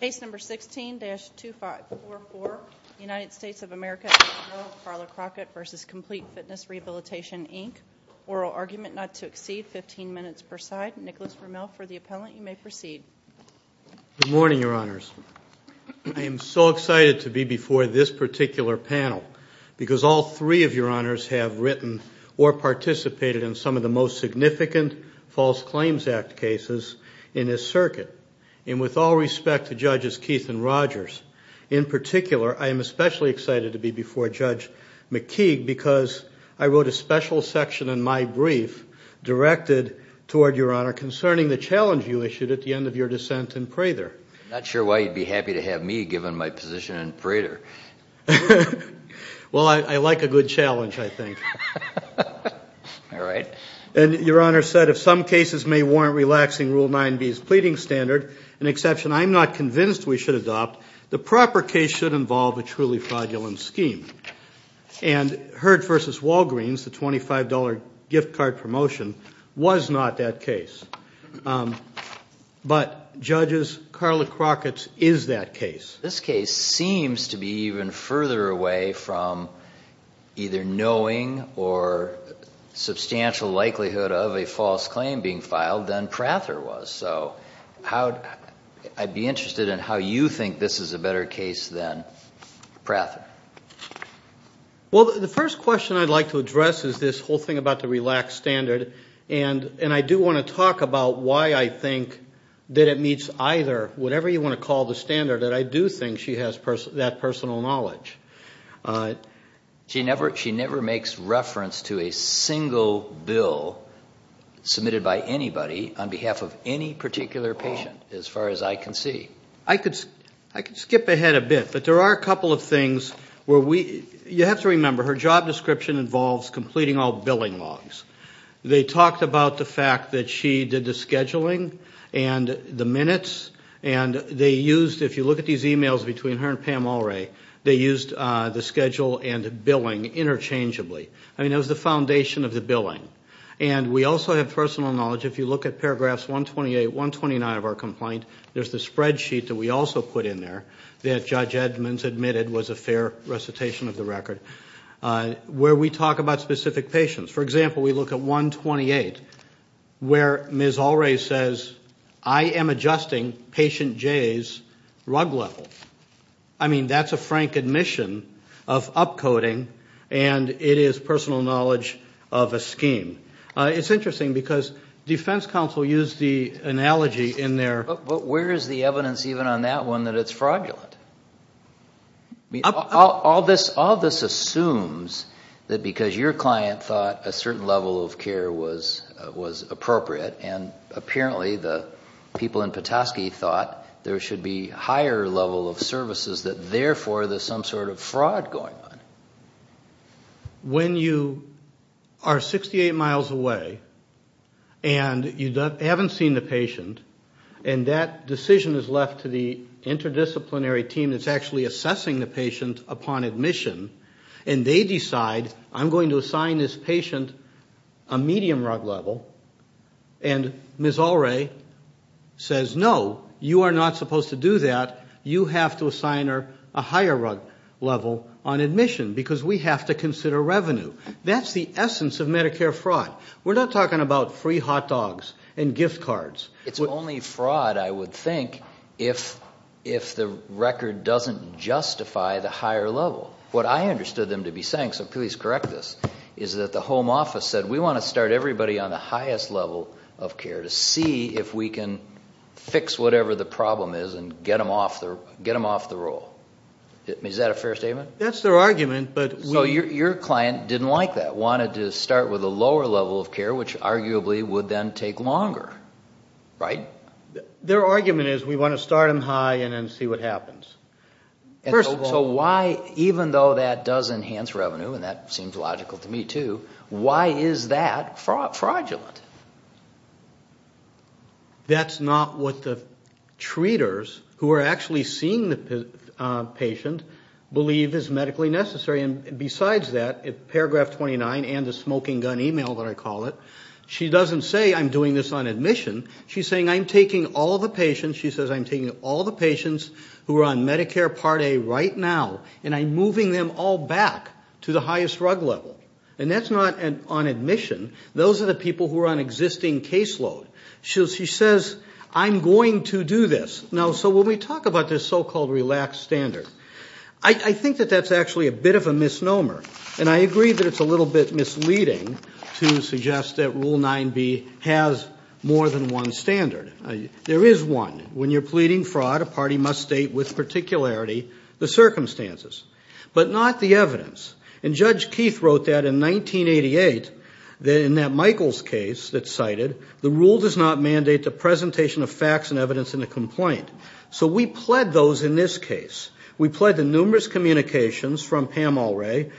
Case number 16-2544 United States of America ex rel Carla Crockett v. Complete Fitness Rehabilitation Inc. Oral argument not to exceed 15 minutes per side. Nicholas Vermeul for the appellant. You may proceed. Good morning, your honors. I am so excited to be before this particular panel because all three of your honors have written or participated in some of the most significant False Claims Act cases in this circuit. And with all respect to judges Keith and Rogers, in particular, I am especially excited to be before Judge McKeague because I wrote a special section in my brief directed toward your honor concerning the challenge you issued at the end of your dissent in Prather. I'm not sure why you'd be happy to have me given my position in Prather. Well, I like a good challenge, I think. All right. And your honor said if some cases may warrant relaxing Rule 9b's pleading standard, an exception I'm not convinced we should adopt, the proper case should involve a truly fraudulent scheme. And Heard v. Walgreens, the $25 gift card promotion, was not that case. But, judges, Carla Crockett's is that case. This case seems to be even further away from either knowing or substantial likelihood of a false claim being filed than Prather was. So I'd be interested in how you think this is a better case than Prather. Well, the first question I'd like to address is this whole thing about the relaxed standard. And I do want to talk about why I think that it meets either, whatever you want to call the standard, I do think she has that personal knowledge. She never makes reference to a single bill submitted by anybody on behalf of any particular patient, as far as I can see. I could skip ahead a bit, but there are a couple of things where we, you have to remember, her job description involves completing all billing logs. They talked about the fact that she did the scheduling and the minutes, and they used, if you look at these emails between her and Pam Ulrey, they used the schedule and billing interchangeably. I mean, that was the foundation of the billing. And we also have personal knowledge, if you look at paragraphs 128, 129 of our complaint, there's the spreadsheet that we also put in there that Judge Edmonds admitted was a fair recitation of the record, where we talk about specific patients. For example, we look at 128, where Ms. Ulrey says, I am adjusting patient J's rug level. I mean, that's a frank admission of upcoding, and it is personal knowledge of a scheme. It's interesting, because defense counsel used the analogy in their- But where is the evidence even on that one that it's fraudulent? All this assumes that because your client thought a certain level of care was appropriate, and apparently the people in Petoskey thought there should be a higher level of services, that therefore there's some sort of fraud going on. When you are 68 miles away, and you haven't seen the patient, and that decision is left to the interdisciplinary team that's actually assessing the patient upon admission, and they decide, I'm going to assign this patient a medium rug level, and Ms. Ulrey says, no, you are not supposed to do that. You have to assign her a higher rug level on admission, because we have to consider revenue. That's the essence of Medicare fraud. We're not talking about free hot dogs and gift cards. It's only fraud, I would think, if the record doesn't justify the higher level. What I understood them to be saying, so please correct this, is that the home office said, we want to start everybody on the highest level of care to see if we can fix whatever the problem is and get them off the roll. Is that a fair statement? That's their argument, but- So your client didn't like that, wanted to start with a lower level of care, which arguably would then take longer, right? Their argument is, we want to start them high and then see what happens. So why, even though that does enhance revenue, and that seems logical to me too, why is that fraudulent? That's not what the treaters, who are actually seeing the patient, believe is medically necessary. And besides that, paragraph 29 and the smoking gun email that I call it, she doesn't say, I'm doing this on admission. She's saying, I'm taking all the patients, she says, I'm taking all the patients who are on Medicare Part A right now, and I'm moving them all back to the highest drug level. And that's not on admission. Those are the people who are on existing caseload. She says, I'm going to do this. Now, so when we talk about this so-called relaxed standard, I think that that's actually a bit of a misnomer. And I agree that it's a little bit misleading to suggest that Rule 9b has more than one standard. There is one. When you're pleading fraud, a party must state with particularity the circumstances, but not the evidence. And Judge Keith wrote that in 1988, in that Michaels case that's cited, the rule does not mandate the presentation of facts and evidence in a complaint. So we pled those in this case. We pled the numerous communications from Pam Alray.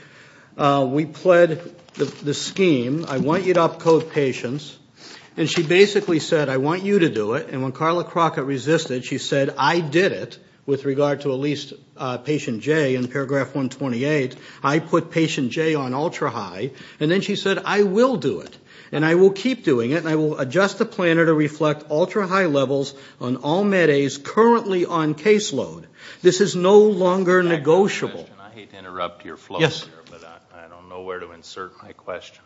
We pled the scheme, I want you to up-code patients. And she basically said, I want you to do it. And when Carla Crockett resisted, she said, I did it, with regard to at least patient J in paragraph 128. I put patient J on ultra-high. And then she said, I will do it. And I will keep doing it, and I will adjust the planner to reflect ultra-high levels on all Med A's currently on caseload. This is no longer negotiable. I hate to interrupt your flow here, but I don't know where to insert my question.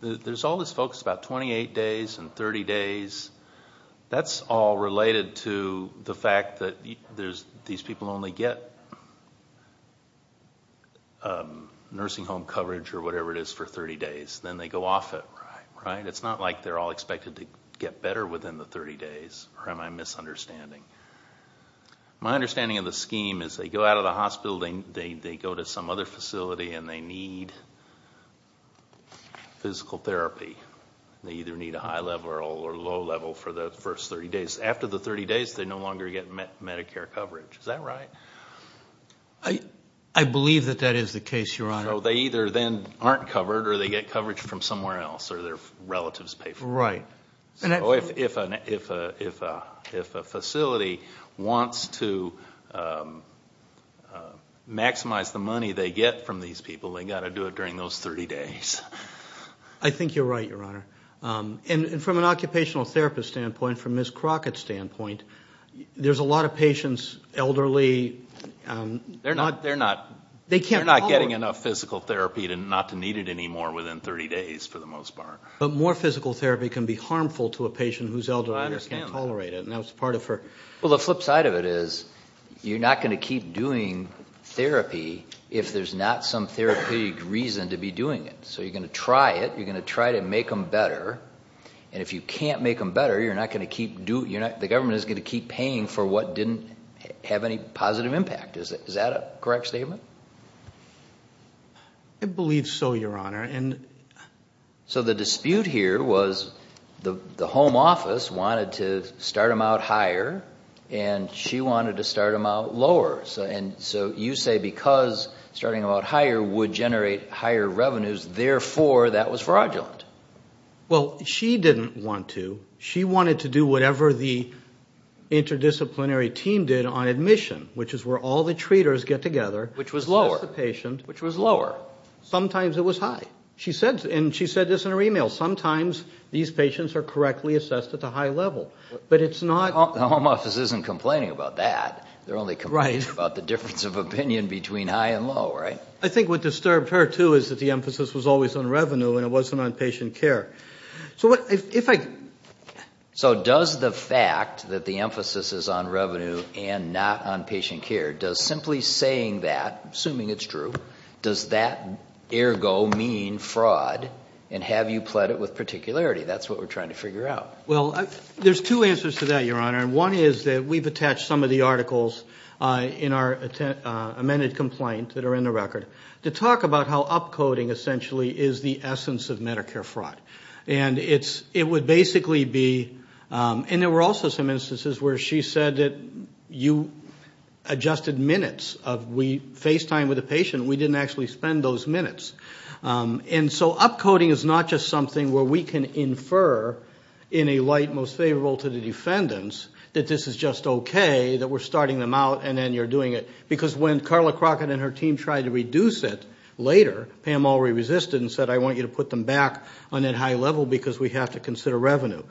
There's all this focus about 28 days and 30 days. That's all related to the fact that these people only get nursing home coverage or whatever it is for 30 days. Then they go off it, right? It's not like they're all expected to get better within the 30 days, or am I misunderstanding? My understanding of the scheme is they go out of the hospital, they go to some other facility, and they need physical therapy. They either need a high level or a low level for the first 30 days. After the 30 days, they no longer get Medicare coverage. Is that right? I believe that that is the case, Your Honor. So they either then aren't covered, or they get coverage from somewhere else, or their relatives pay for it. Right. So if a facility wants to maximize the money they get from these people, they've got to do it during those 30 days. I think you're right, Your Honor. And from an occupational therapist standpoint, from Ms. Crockett's standpoint, there's a lot of patients, elderly. They're not getting enough physical therapy not to need it anymore within 30 days for the most part. But more physical therapy can be harmful to a patient whose elderly can't tolerate it. I understand that. Well, the flip side of it is you're not going to keep doing therapy if there's not some therapeutic reason to be doing it. So you're going to try it, you're going to try to make them better, and if you can't make them better, the government is going to keep paying for what didn't have any positive impact. Is that a correct statement? I believe so, Your Honor. So the dispute here was the home office wanted to start them out higher, and she wanted to start them out lower. So you say because starting them out higher would generate higher revenues, therefore that was fraudulent. Well, she didn't want to. She wanted to do whatever the interdisciplinary team did on admission, which is where all the treaters get together. Which was lower. Which was lower. Sometimes it was high. And she said this in her e-mail. Sometimes these patients are correctly assessed at the high level. But it's not... The home office isn't complaining about that. They're only complaining about the difference of opinion between high and low, right? I think what disturbed her, too, is that the emphasis was always on revenue and it wasn't on patient care. So if I... So does the fact that the emphasis is on revenue and not on patient care, does simply saying that, assuming it's true, does that ergo mean fraud and have you pled it with particularity? That's what we're trying to figure out. Well, there's two answers to that, Your Honor. And one is that we've attached some of the articles in our amended complaint that are in the record to talk about how upcoding essentially is the essence of Medicare fraud. And it would basically be... And there were also some instances where she said that you adjusted minutes. We FaceTimed with a patient. We didn't actually spend those minutes. And so upcoding is not just something where we can infer in a light most favorable to the defendants that this is just okay, that we're starting them out and then you're doing it. Because when Carla Crockett and her team tried to reduce it later, Pam already resisted and said, I want you to put them back on that high level because we have to consider revenue.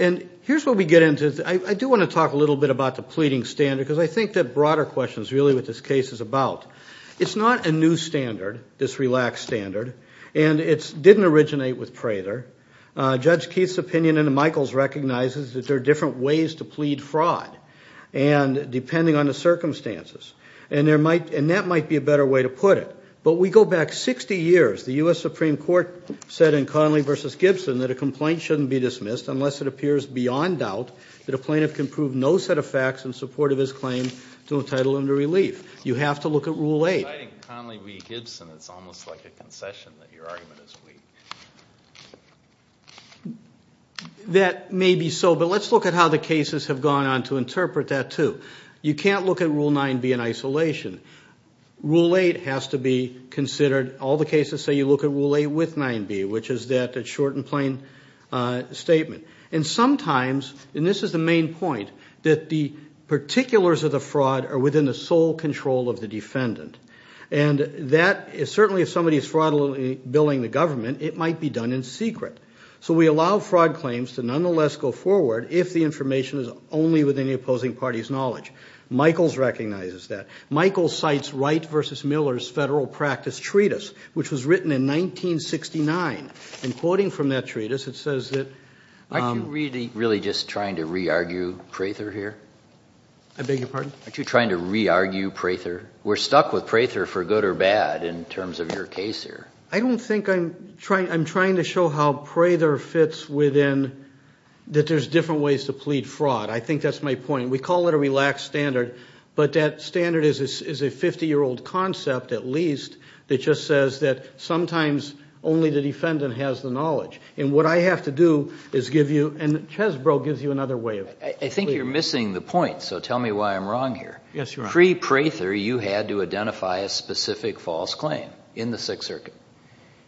And here's what we get into. I do want to talk a little bit about the pleading standard because I think the broader question is really what this case is about. It's not a new standard, this relaxed standard. And it didn't originate with Prather. Judge Keith's opinion and Michael's recognizes that there are different ways to plead fraud, depending on the circumstances. And that might be a better way to put it. But we go back 60 years. The U.S. Supreme Court said in Conley v. Gibson that a complaint shouldn't be dismissed unless it appears beyond doubt that a plaintiff can prove no set of facts in support of his claim to entitle him to relief. You have to look at Rule 8. In Conley v. Gibson, it's almost like a concession that your argument is weak. That may be so, but let's look at how the cases have gone on to interpret that, too. You can't look at Rule 9b in isolation. Rule 8 has to be considered. All the cases say you look at Rule 8 with 9b, which is that it's short and plain statement. And sometimes, and this is the main point, that the particulars of the fraud are within the sole control of the defendant. And that is certainly if somebody is fraudulently billing the government, it might be done in secret. So we allow fraud claims to nonetheless go forward if the information is only within the opposing party's knowledge. Michael's recognizes that. Michael cites Wright v. Miller's Federal Practice Treatise, which was written in 1969. In quoting from that treatise, it says that- Aren't you really just trying to re-argue Prather here? I beg your pardon? Aren't you trying to re-argue Prather? We're stuck with Prather for good or bad in terms of your case here. I don't think I'm trying to show how Prather fits within that there's different ways to plead fraud. I think that's my point. We call it a relaxed standard, but that standard is a 50-year-old concept, at least, that just says that sometimes only the defendant has the knowledge. And what I have to do is give you- and Chesbrough gives you another way of- I think you're missing the point, so tell me why I'm wrong here. Yes, you are. Pre-Prather, you had to identify a specific false claim in the Sixth Circuit.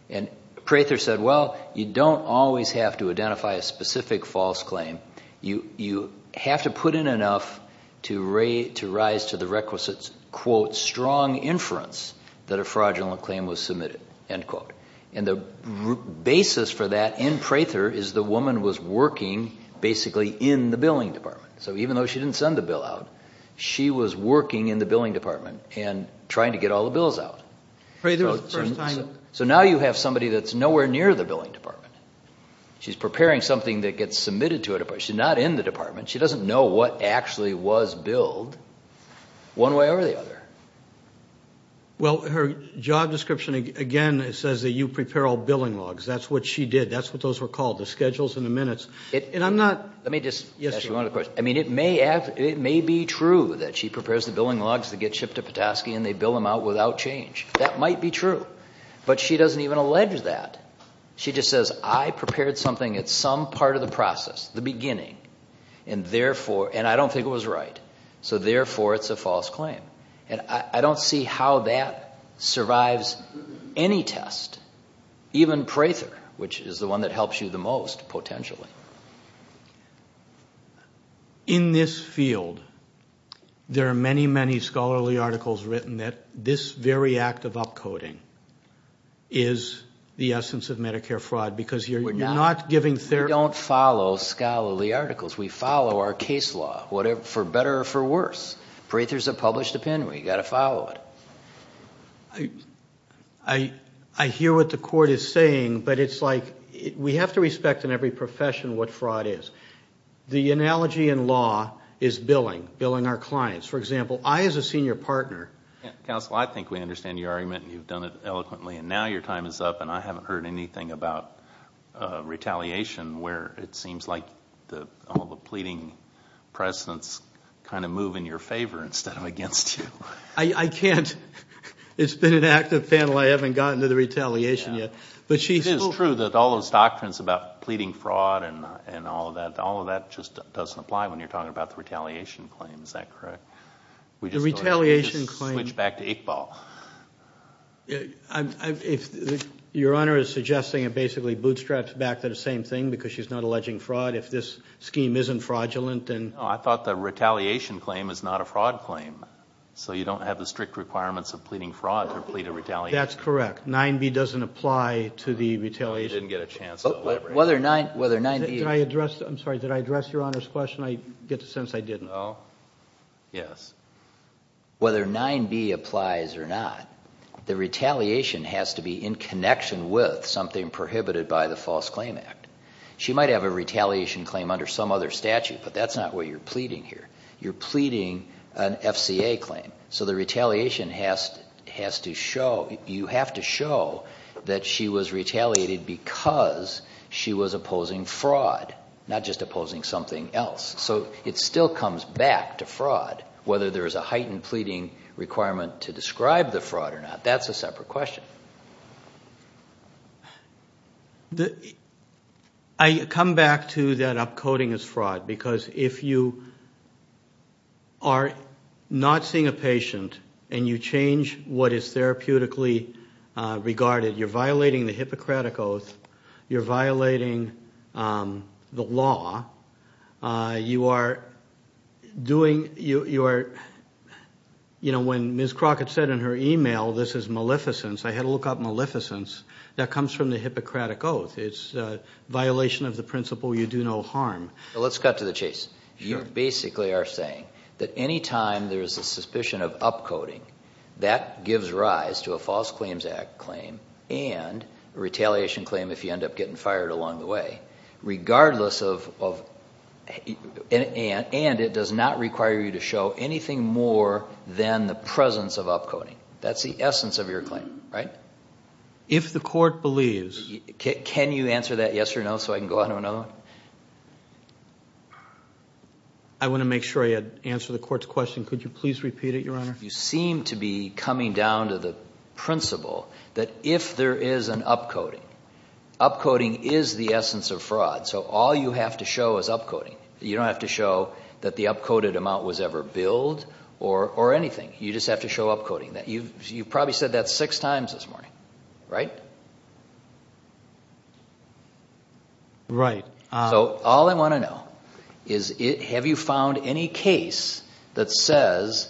And Prather said, well, you don't always have to identify a specific false claim. You have to put in enough to rise to the requisites, quote, strong inference that a fraudulent claim was submitted, end quote. And the basis for that in Prather is the woman was working basically in the billing department. So even though she didn't send the bill out, she was working in the billing department and trying to get all the bills out. So now you have somebody that's nowhere near the billing department. She's preparing something that gets submitted to a department. She's not in the department. She doesn't know what actually was billed one way or the other. Well, her job description, again, says that you prepare all billing logs. That's what she did. That's what those were called, the schedules and the minutes. And I'm not- Let me just- Yes, sir. I mean, it may be true that she prepares the billing logs that get shipped to Petoskey and they bill them out without change. That might be true. But she doesn't even allege that. She just says, I prepared something at some part of the process, the beginning, and I don't think it was right. So therefore, it's a false claim. And I don't see how that survives any test, even Prather, which is the one that helps you the most, potentially. In this field, there are many, many scholarly articles written that this very act of upcoding is the essence of Medicare fraud because you're not giving therapy- We don't follow scholarly articles. We follow our case law, for better or for worse. Prather's a published opinion. We've got to follow it. I hear what the court is saying, but it's like we have to respect in every profession what fraud is. The analogy in law is billing, billing our clients. For example, I as a senior partner- Counsel, I think we understand your argument and you've done it eloquently, and now your time is up and I haven't heard anything about retaliation where it seems like all the pleading precedents kind of move in your favor instead of against you. I can't. It's been an active panel. I haven't gotten to the retaliation yet. It is true that all those doctrines about pleading fraud and all of that, all of that just doesn't apply when you're talking about the retaliation claim. Is that correct? The retaliation claim- Switch back to Iqbal. Your Honor is suggesting it basically bootstraps back to the same thing because she's not alleging fraud. If this scheme isn't fraudulent, then- No, I thought the retaliation claim is not a fraud claim, so you don't have the strict requirements of pleading fraud to plead a retaliation claim. That's correct. 9b doesn't apply to the retaliation claim. You didn't get a chance to elaborate. Whether 9b- Did I address- I'm sorry. Did I address Your Honor's question? I get the sense I didn't. No? Yes. Whether 9b applies or not, the retaliation has to be in connection with something prohibited by the False Claim Act. She might have a retaliation claim under some other statute, but that's not what you're pleading here. You're pleading an FCA claim. So the retaliation has to show- you have to show that she was retaliated because she was opposing fraud, not just opposing something else. So it still comes back to fraud, whether there is a heightened pleading requirement to describe the fraud or not. That's a separate question. I come back to that upcoding is fraud because if you are not seeing a patient and you change what is therapeutically regarded, you're violating the Hippocratic Oath, you're violating the law, you are doing- when Ms. Crockett said in her email, this is maleficence, I had to look up maleficence. That comes from the Hippocratic Oath. It's a violation of the principle you do no harm. Let's cut to the chase. You basically are saying that any time there is a suspicion of upcoding, that gives rise to a False Claims Act claim and a retaliation claim if you end up getting fired along the way, regardless of- and it does not require you to show anything more than the presence of upcoding. That's the essence of your claim, right? If the court believes- Can you answer that yes or no so I can go on to another one? I want to make sure I answer the court's question. Could you please repeat it, Your Honor? You seem to be coming down to the principle that if there is an upcoding, upcoding is the essence of fraud, so all you have to show is upcoding. You don't have to show that the upcoded amount was ever billed or anything. You just have to show upcoding. You've probably said that six times this morning, right? Right. So all I want to know is, have you found any case that says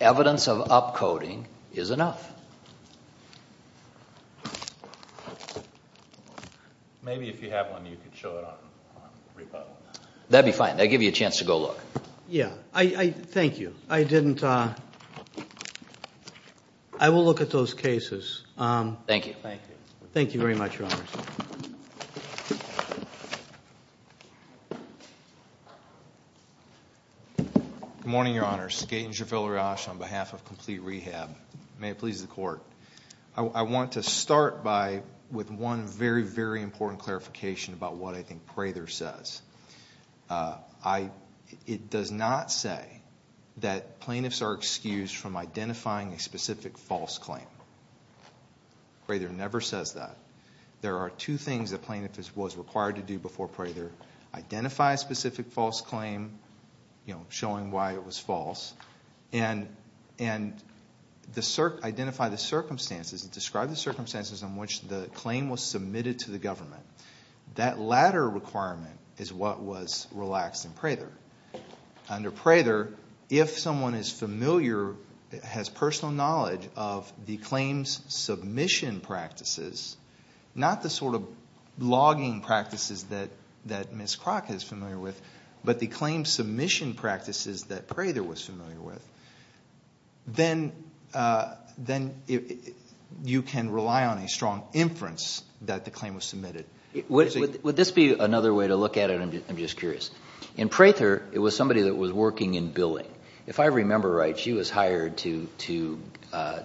evidence of upcoding is enough? Maybe if you have one, you can show it on repo. That'd be fine. That'd give you a chance to go look. Yeah. Thank you. I didn't- I will look at those cases. Thank you. Thank you very much, Your Honor. Good morning, Your Honor. Skaten Jafilariach on behalf of Complete Rehab. May it please the court. I want to start by- with one very, very important clarification about what I think Prather says. It does not say that plaintiffs are excused from identifying a specific false claim. Prather never says that. There are two things a plaintiff was required to do before Prather. Identify a specific false claim, showing why it was false, and identify the circumstances. Describe the circumstances in which the claim was submitted to the government. That latter requirement is what was relaxed in Prather. Under Prather, if someone is familiar, has personal knowledge of the claim's submission practices, not the sort of logging practices that Ms. Crock is familiar with, but the claim submission practices that Prather was familiar with, then you can rely on a strong inference that the claim was submitted. Would this be another way to look at it? I'm just curious. In Prather, it was somebody that was working in billing. If I remember right, she was hired to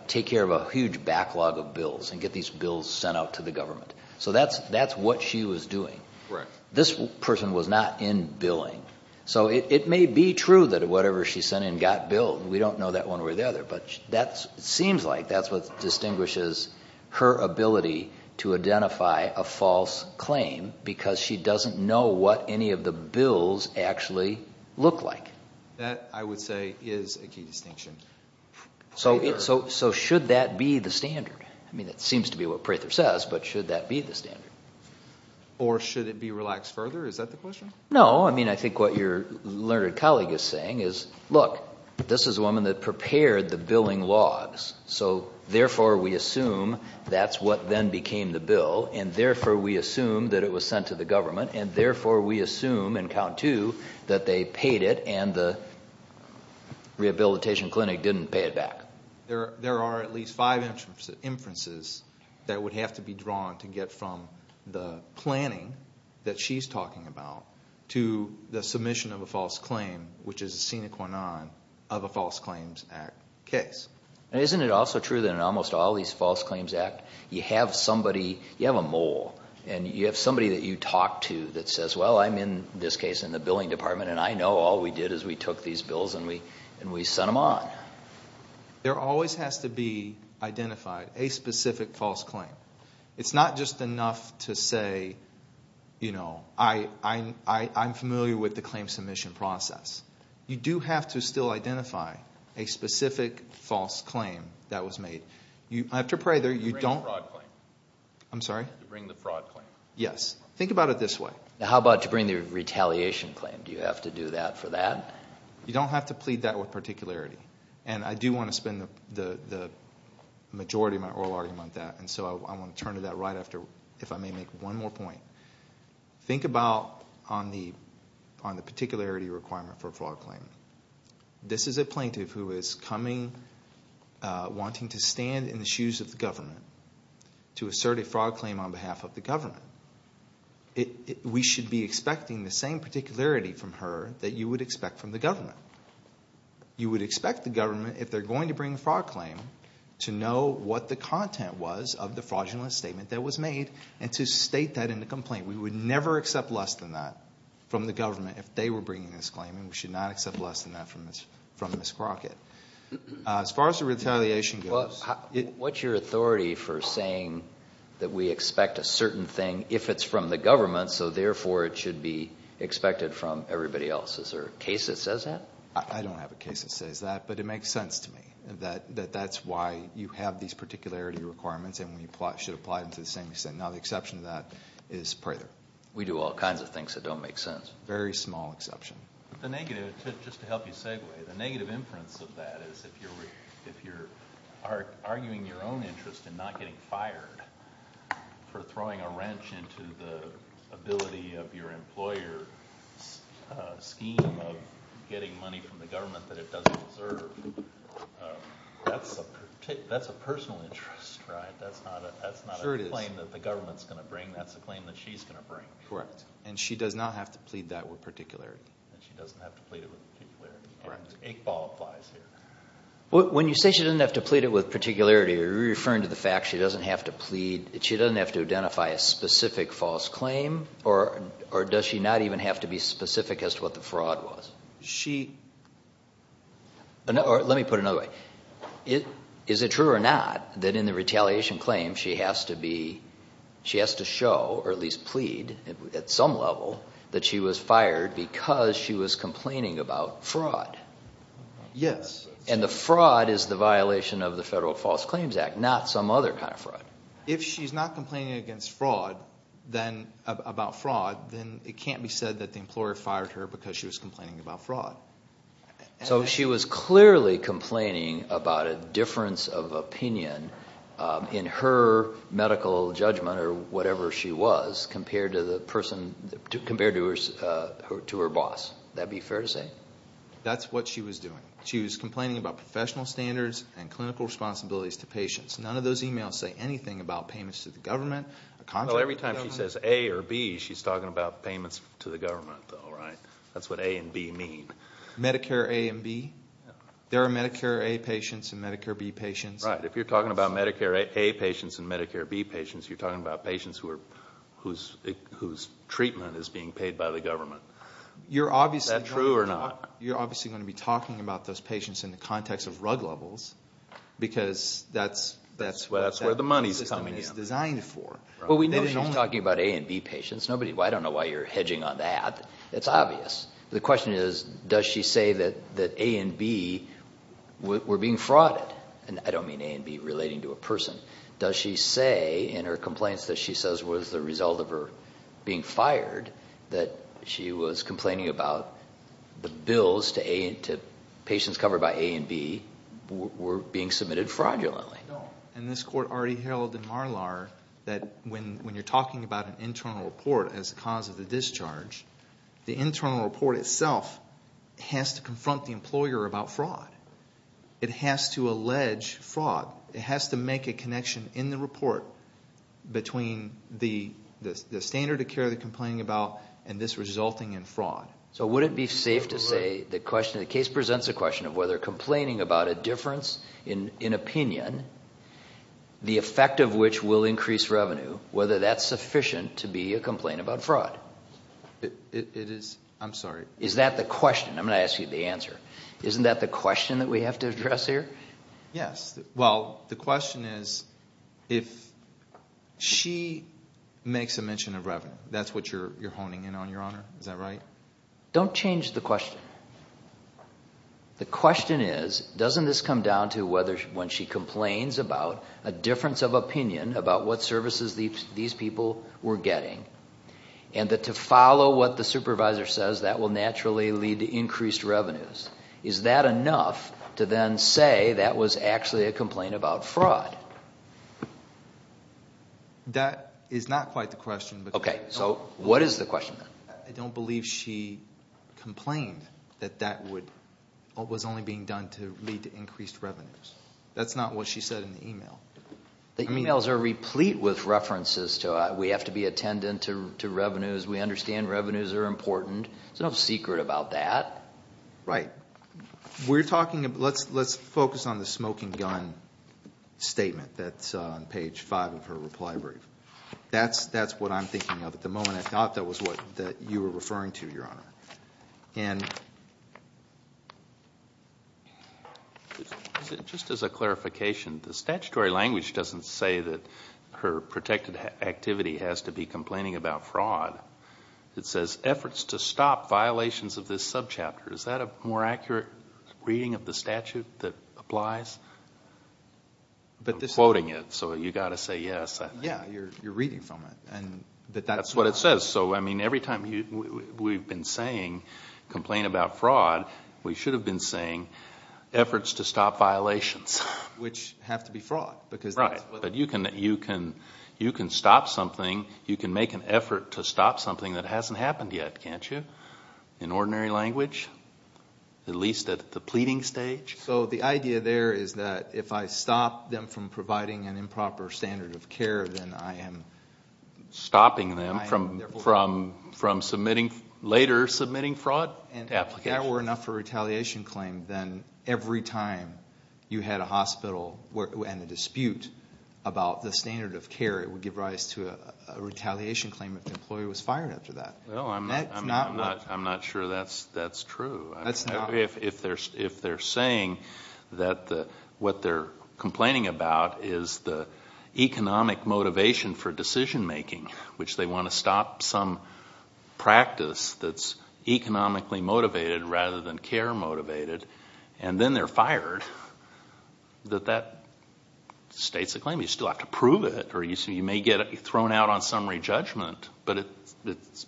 take care of a huge backlog of bills and get these bills sent out to the government. So that's what she was doing. This person was not in billing. So it may be true that whatever she sent in got billed. We don't know that one way or the other, but it seems like that's what distinguishes her ability to identify a false claim because she doesn't know what any of the bills actually look like. That, I would say, is a key distinction. So should that be the standard? I mean, that seems to be what Prather says, but should that be the standard? Or should it be relaxed further? Is that the question? No. I mean, I think what your learned colleague is saying is, look, this is a woman that prepared the billing logs, so therefore we assume that's what then became the bill, and therefore we assume that it was sent to the government, and therefore we assume in count two that they paid it and the rehabilitation clinic didn't pay it back. There are at least five inferences that would have to be drawn to get from the planning that she's talking about to the submission of a false claim, which is a sine qua non of a False Claims Act case. Isn't it also true that in almost all these False Claims Act, you have somebody, you have a mole, and you have somebody that you talk to that says, well, I'm in this case in the billing department, and I know all we did is we took these bills and we sent them on. There always has to be identified a specific false claim. It's not just enough to say, you know, I'm familiar with the claim submission process. You do have to still identify a specific false claim that was made. I have to pray that you don't... To bring the fraud claim. I'm sorry? To bring the fraud claim. Yes. Think about it this way. How about to bring the retaliation claim? Do you have to do that for that? You don't have to plead that with particularity, and I do want to spend the majority of my oral argument on that, and so I want to turn to that right after, if I may make one more point. Think about on the particularity requirement for a fraud claim. This is a plaintiff who is coming, wanting to stand in the shoes of the government to assert a fraud claim on behalf of the government. We should be expecting the same particularity from her that you would expect from the government. You would expect the government, if they're going to bring a fraud claim, to know what the content was of the fraudulent statement that was made and to state that in the complaint. We would never accept less than that from the government if they were bringing this claim, and we should not accept less than that from Ms. Crockett. As far as the retaliation goes... What's your authority for saying that we expect a certain thing if it's from the government, so therefore it should be expected from everybody else? Is there a case that says that? I don't have a case that says that, but it makes sense to me that that's why you have these particularity requirements and we should apply them to the same extent. Now the exception to that is Prather. We do all kinds of things that don't make sense. Very small exception. The negative, just to help you segue, the negative inference of that is if you're arguing your own interest in not getting fired for throwing a wrench into the ability of your employer's scheme of getting money from the government that it doesn't deserve, that's a personal interest, right? That's not a claim that the government's going to bring. That's a claim that she's going to bring. Correct. And she does not have to plead that with particularity. And she doesn't have to plead it with particularity. Correct. Eight ball applies here. When you say she doesn't have to plead it with particularity, are you referring to the fact she doesn't have to plead, she doesn't have to identify a specific false claim, or does she not even have to be specific as to what the fraud was? Let me put it another way. Is it true or not that in the retaliation claim she has to be, she has to show or at least plead at some level that she was fired because she was complaining about fraud? Yes. And the fraud is the violation of the Federal False Claims Act, not some other kind of fraud. If she's not complaining about fraud, then it can't be said that the employer fired her because she was complaining about fraud. So she was clearly complaining about a difference of opinion in her medical judgment or whatever she was compared to her boss. That be fair to say? That's what she was doing. She was complaining about professional standards and clinical responsibilities to patients. None of those emails say anything about payments to the government. Every time she says A or B, she's talking about payments to the government though, right? That's what A and B mean. Medicare A and B? There are Medicare A patients and Medicare B patients. Right. If you're talking about Medicare A patients and Medicare B patients, you're talking about patients whose treatment is being paid by the government. Is that true or not? You're obviously going to be talking about those patients in the context of rug levels because that's where the money is coming in. It's designed for. Well, we know she's talking about A and B patients. I don't know why you're hedging on that. It's obvious. The question is, does she say that A and B were being frauded? And I don't mean A and B relating to a person. Does she say in her complaints that she says was the result of her being fired that she was complaining about the bills to patients covered by A and B were being submitted fraudulently? No, and this court already held in MARLAR that when you're talking about an internal report as a cause of the discharge, the internal report itself has to confront the employer about fraud. It has to allege fraud. It has to make a connection in the report between the standard of care they're complaining about and this resulting in fraud. So would it be safe to say the case presents a question of whether complaining about a difference in opinion, the effect of which will increase revenue, whether that's sufficient to be a complaint about fraud? It is. I'm sorry. Is that the question? I'm going to ask you the answer. Isn't that the question that we have to address here? Yes. Well, the question is if she makes a mention of revenue. That's what you're honing in on, Your Honor. Is that right? Don't change the question. The question is doesn't this come down to when she complains about a difference of opinion about what services these people were getting and that to follow what the supervisor says, that will naturally lead to increased revenues. Is that enough to then say that was actually a complaint about fraud? That is not quite the question. Okay. So what is the question then? I don't believe she complained that that was only being done to lead to increased revenues. That's not what she said in the email. The emails are replete with references to we have to be attendant to revenues, we understand revenues are important. There's no secret about that. Right. We're talking about, let's focus on the smoking gun statement that's on page 5 of her reply brief. That's what I'm thinking of at the moment. I thought that was what you were referring to, Your Honor. Just as a clarification, the statutory language doesn't say that her protected activity has to be complaining about fraud. It says efforts to stop violations of this subchapter. Is that a more accurate reading of the statute that applies? I'm quoting it, so you've got to say yes. Yeah, you're reading from it. That's what it says. So every time we've been saying complain about fraud, we should have been saying efforts to stop violations. Which have to be fraud. Right. But you can stop something, you can make an effort to stop something that hasn't happened yet, can't you? In ordinary language. At least at the pleading stage. So the idea there is that if I stop them from providing an improper standard of care, then I am... Stopping them from later submitting fraud applications. If there were enough for retaliation claim, then every time you had a hospital and a dispute about the standard of care, it would give rise to a retaliation claim if the employer was fired after that. I'm not sure that's true. If they're saying that what they're complaining about is the economic motivation for decision making, which they want to stop some practice that's economically motivated rather than care motivated, and then they're fired, that that states a claim. You still have to prove it, or you may get thrown out on summary judgment, but it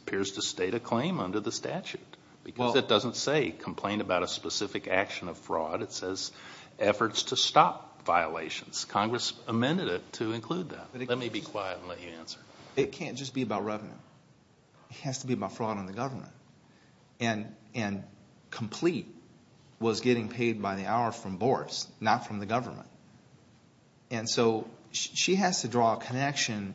appears to state a claim under the statute. Because it doesn't say complain about a specific action of fraud. It says efforts to stop violations. Congress amended it to include that. Let me be quiet and let you answer. It can't just be about revenue. It has to be about fraud on the government. And Complete was getting paid by the hour from Boris, not from the government. And so she has to draw a connection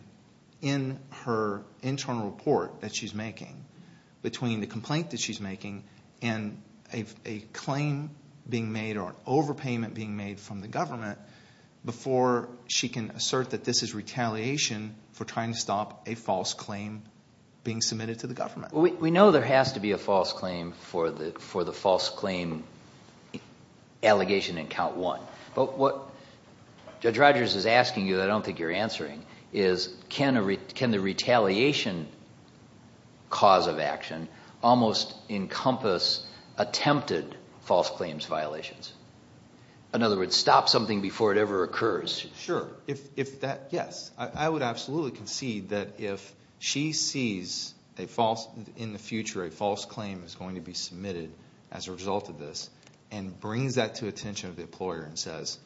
in her internal report that she's making between the complaint that she's making and a claim being made or an overpayment being made from the government before she can assert that this is retaliation for trying to stop a false claim being submitted to the government. We know there has to be a false claim for the false claim allegation in count one. But what Judge Rogers is asking you that I don't think you're answering is can the retaliation cause of action almost encompass attempted false claims violations? In other words, stop something before it ever occurs. Sure. Yes, I would absolutely concede that if she sees in the future a false claim is going to be submitted as a result of this and brings that to the attention of the employer and says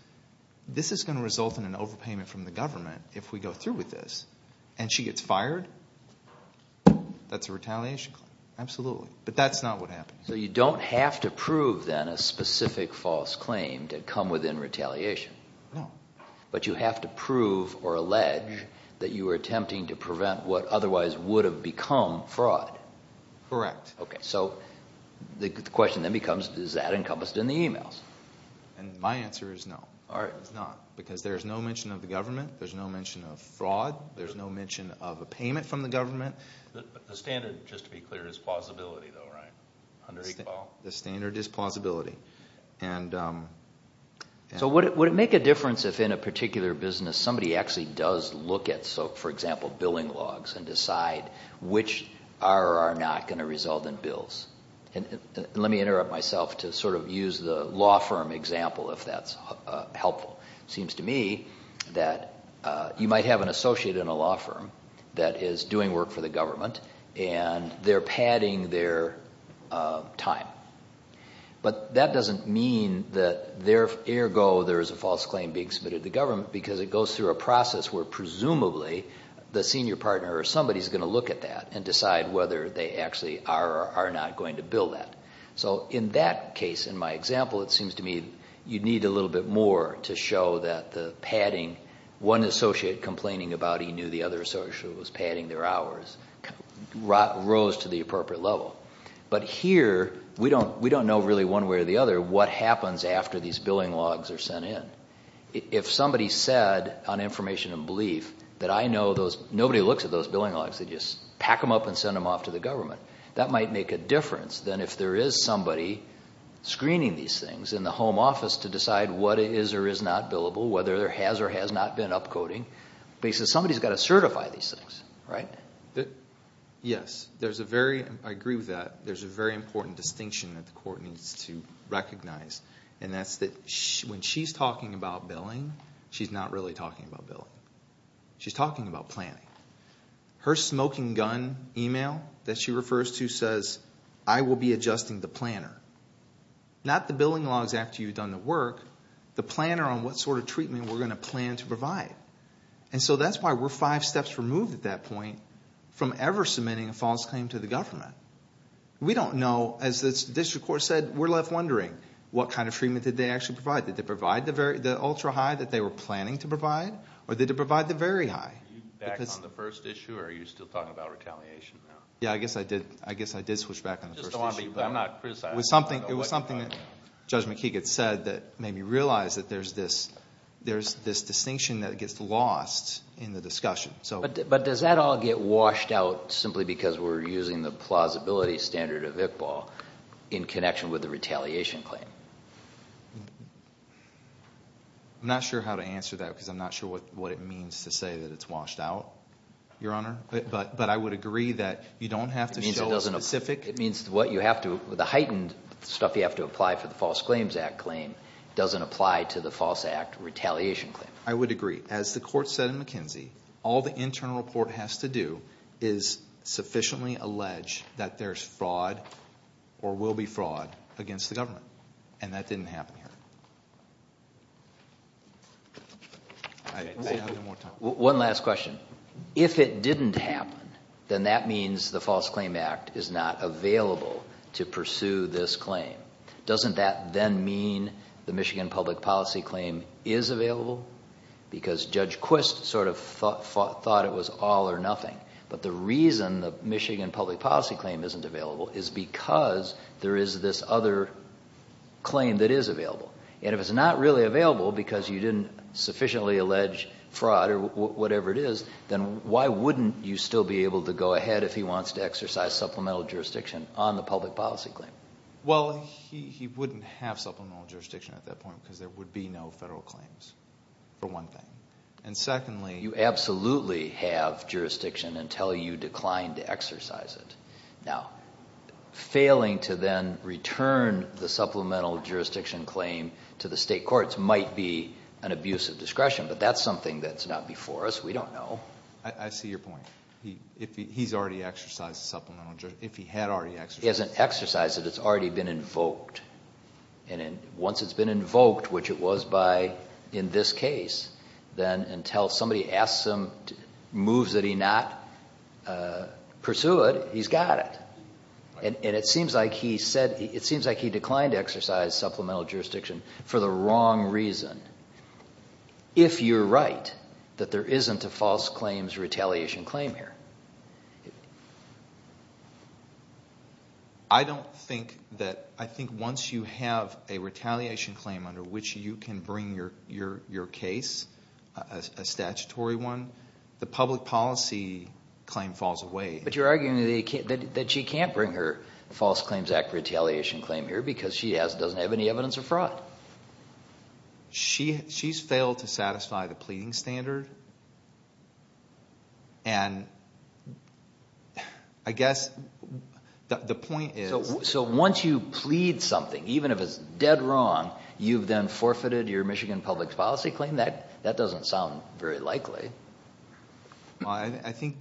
this is going to result in an overpayment from the government if we go through with this and she gets fired, that's a retaliation claim. Absolutely. But that's not what happens. So you don't have to prove then a specific false claim to come within retaliation. No. But you have to prove or allege that you were attempting to prevent what otherwise would have become fraud. Correct. So the question then becomes is that encompassed in the emails? My answer is no, it's not. Because there's no mention of the government, there's no mention of fraud, there's no mention of a payment from the government. The standard, just to be clear, is plausibility though, right? Under EGPAL? The standard is plausibility. So would it make a difference if in a particular business somebody actually does look at, for example, billing logs and decide which are or are not going to result in bills? Let me interrupt myself to sort of use the law firm example, if that's helpful. It seems to me that you might have an associate in a law firm that is doing work for the government and they're padding their time. But that doesn't mean that ergo there is a false claim being submitted to the government because it goes through a process where presumably the senior partner or somebody is going to look at that and decide whether they actually are or are not going to bill that. So in that case, in my example, it seems to me you'd need a little bit more to show that the padding, one associate complaining about he knew the other associate was padding their hours, rose to the appropriate level. But here we don't know really one way or the other what happens after these billing logs are sent in. If somebody said on information and belief that I know nobody looks at those billing logs, they just pack them up and send them off to the government, that might make a difference than if there is somebody screening these things in the home office to decide what is or is not billable, whether there has or has not been upcoding. Somebody's got to certify these things, right? Yes. I agree with that. There's a very important distinction that the court needs to recognize, and that's that when she's talking about billing, she's not really talking about billing. She's talking about planning. Her smoking gun email that she refers to says, I will be adjusting the planner. Not the billing logs after you've done the work, the planner on what sort of treatment we're going to plan to provide. And so that's why we're five steps removed at that point from ever submitting a false claim to the government. We don't know, as the district court said, we're left wondering what kind of treatment did they actually provide. Did they provide the ultra-high that they were planning to provide, or did they provide the very high? Are you back on the first issue, or are you still talking about retaliation now? Yeah, I guess I did switch back on the first issue. It was something that Judge McKeegan said that made me realize that there's this distinction that gets lost in the discussion. But does that all get washed out simply because we're using the plausibility standard of Iqbal in connection with the retaliation claim? I'm not sure how to answer that because I'm not sure what it means to say that it's washed out, Your Honor. But I would agree that you don't have to show a specific... It means what you have to... The heightened stuff you have to apply for the False Claims Act claim doesn't apply to the False Act Retaliation claim. I would agree. As the court said in McKenzie, all the internal report has to do is sufficiently allege that there's fraud or will be fraud against the government. And that didn't happen here. One last question. If it didn't happen, then that means the False Claims Act is not available to pursue this claim. Doesn't that then mean the Michigan Public Policy claim is available? Because Judge Quist sort of thought it was all or nothing. But the reason the Michigan Public Policy claim isn't available is because there is this other claim that is available. And if it's not really available because you didn't sufficiently allege fraud or whatever it is, then why wouldn't you still be able to go ahead if he wants to exercise supplemental jurisdiction on the public policy claim? Well, he wouldn't have supplemental jurisdiction at that point because there would be no federal claims, for one thing. And secondly... You absolutely have jurisdiction until you decline to exercise it. Now, failing to then return the supplemental jurisdiction claim to the state courts might be an abuse of discretion, but that's something that's not before us. We don't know. I see your point. He's already exercised supplemental jurisdiction. If he had already exercised it... He hasn't exercised it. It's already been invoked. And once it's been invoked, which it was in this case, then until somebody asks him moves that he not pursued, he's got it. And it seems like he declined to exercise supplemental jurisdiction for the wrong reason, if you're right that there isn't a false claims retaliation claim here. I don't think that... I think once you have a retaliation claim under which you can bring your case, a statutory one, the public policy claim falls away. But you're arguing that she can't bring her false claims act retaliation claim here because she doesn't have any evidence of fraud. She's failed to satisfy the pleading standard. And I guess the point is... So once you plead something, even if it's dead wrong, you've then forfeited your Michigan public policy claim? That doesn't sound very likely. I think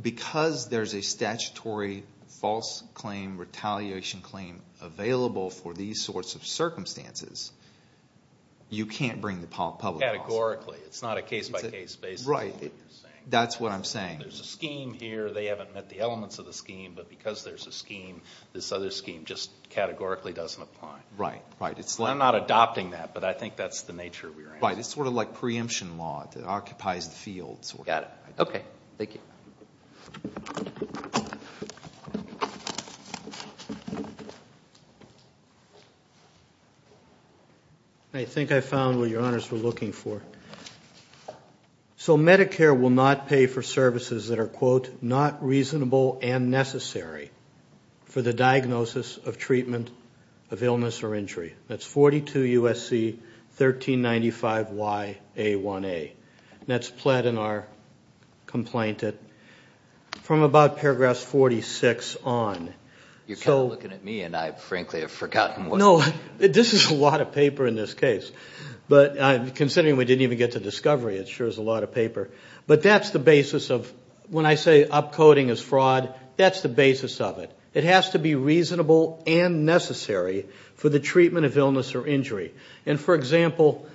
because there's a statutory false claim retaliation claim available for these sorts of circumstances, you can't bring the public policy. Categorically. It's not a case-by-case basis. Right. That's what I'm saying. There's a scheme here. They haven't met the elements of the scheme. But because there's a scheme, this other scheme just categorically doesn't apply. Right. I'm not adopting that, but I think that's the nature of your answer. Right. It's sort of like preemption law that occupies the field. Got it. Okay. Thank you. I think I found what your honors were looking for. So Medicare will not pay for services that are, quote, not reasonable and necessary for the diagnosis of treatment of illness or injury. That's 42 USC 1395YA1A. And that's pled in our complaint from about paragraph 46 on. You're kind of looking at me, and I, frankly, have forgotten. No, this is a lot of paper in this case. But considering we didn't even get to discovery, it sure is a lot of paper. But that's the basis of when I say upcoding is fraud, that's the basis of it. It has to be reasonable and necessary for the treatment of illness or injury. And, for example,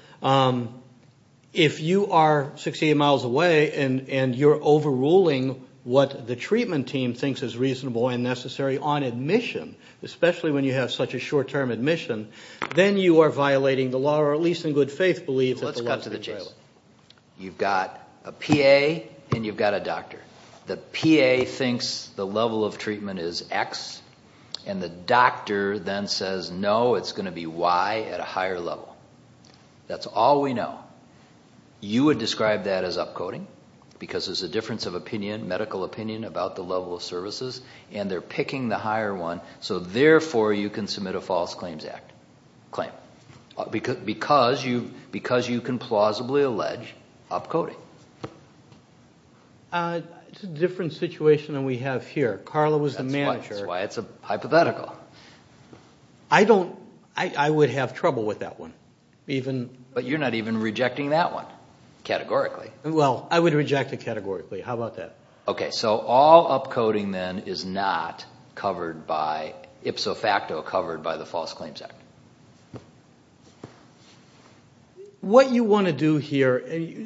if you are 68 miles away and you're overruling what the treatment team thinks is reasonable and necessary on admission, especially when you have such a short-term admission, then you are violating the law or, at least in good faith, believe that the law is being violated. Let's cut to the chase. You've got a PA and you've got a doctor. The PA thinks the level of treatment is X, and the doctor then says, no, it's going to be Y at a higher level. That's all we know. You would describe that as upcoding because there's a difference of opinion, medical opinion, about the level of services, and they're picking the higher one. So, therefore, you can submit a false claims act claim because you can plausibly allege upcoding. It's a different situation than we have here. Carla was the manager. That's why it's hypothetical. I would have trouble with that one. But you're not even rejecting that one categorically. Well, I would reject it categorically. How about that? Okay, so all upcoding then is not covered by, ipso facto covered by the false claims act. What you want to do here,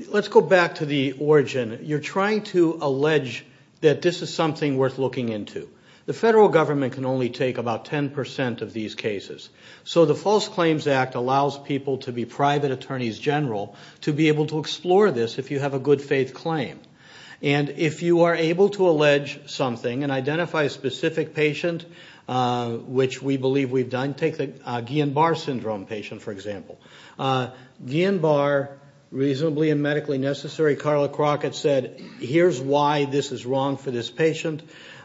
let's go back to the origin. You're trying to allege that this is something worth looking into. The federal government can only take about 10% of these cases. So the false claims act allows people to be private attorneys general to be able to explore this if you have a good faith claim. And if you are able to allege something and identify a specific patient, which we believe we've done, take the Guillain-Barre Syndrome patient, for example. Guillain-Barre, reasonably and medically necessary, Carla Crockett said, here's why this is wrong for this patient.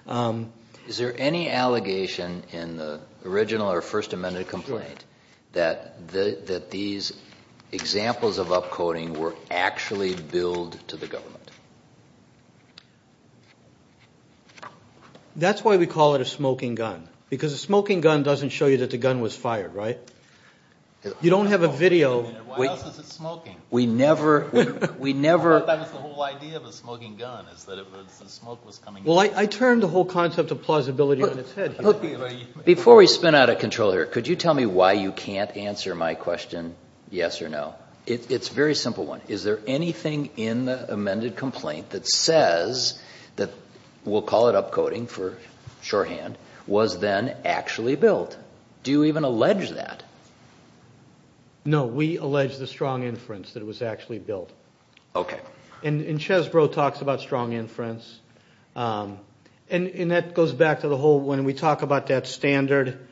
Is there any allegation in the original or first amended complaint that these examples of upcoding were actually billed to the government? That's why we call it a smoking gun. Because a smoking gun doesn't show you that the gun was fired, right? You don't have a video. Wait a minute, what else is it smoking? We never, we never. I thought that was the whole idea of a smoking gun, is that if the smoke was coming in. Well, I turned the whole concept of plausibility on its head. Before we spin out of control here, could you tell me why you can't answer my question yes or no? It's a very simple one. Is there anything in the amended complaint that says that, we'll call it upcoding for shorthand, was then actually billed? Do you even allege that? No, we allege the strong inference that it was actually billed. And Chesbrough talks about strong inference. And that goes back to the whole, when we talk about that standard.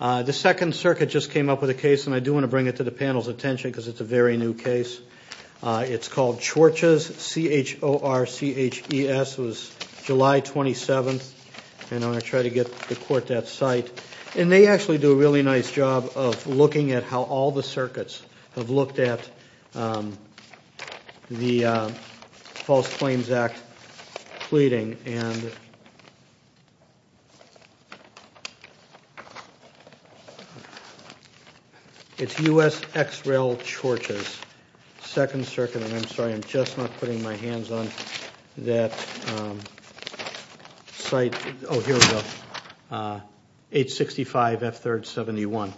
The second circuit just came up with a case, and I do want to bring it to the panel's attention, because it's a very new case. It's called Chorches, C-H-O-R-C-H-E-S. It was July 27th. And I'm going to try to get the court that site. have looked at the False Claims Act pleading, and it's U.S. X-Rail Chorches, Second Circuit. And I'm sorry, I'm just not putting my hands on that site. Oh, here we go. H-65, F-3rd, 71.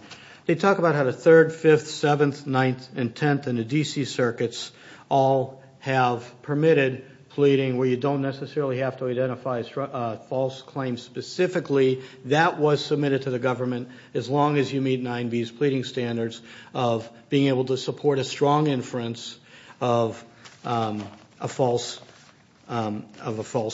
They talk about how the 3rd, 5th, 7th, 9th, and 10th, and the D.C. circuits all have permitted pleading where you don't necessarily have to identify false claims specifically. That was submitted to the government, as long as you meet 9B's pleading standards of being able to support a strong inference of a false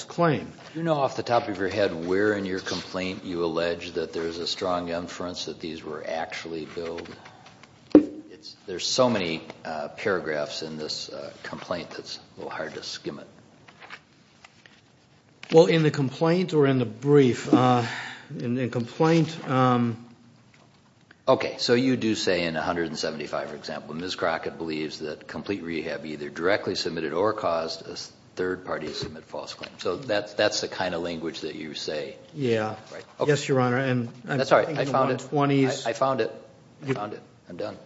claim. Do you know off the top of your head where in your complaint you allege that there's a strong inference that these were actually billed? There's so many paragraphs in this complaint that it's a little hard to skim it. Well, in the complaint or in the brief? In the complaint. Okay, so you do say in 175, for example, Ms. Crockett believes that complete rehab either directly submitted or caused a third party to submit a false claim. So that's the kind of language that you say? Yeah. Yes, Your Honor. That's all right. I found it. I found it. I found it. I'm done.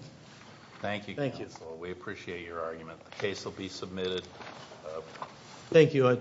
Thank you, counsel. We appreciate your argument. The case will be submitted. Thank you.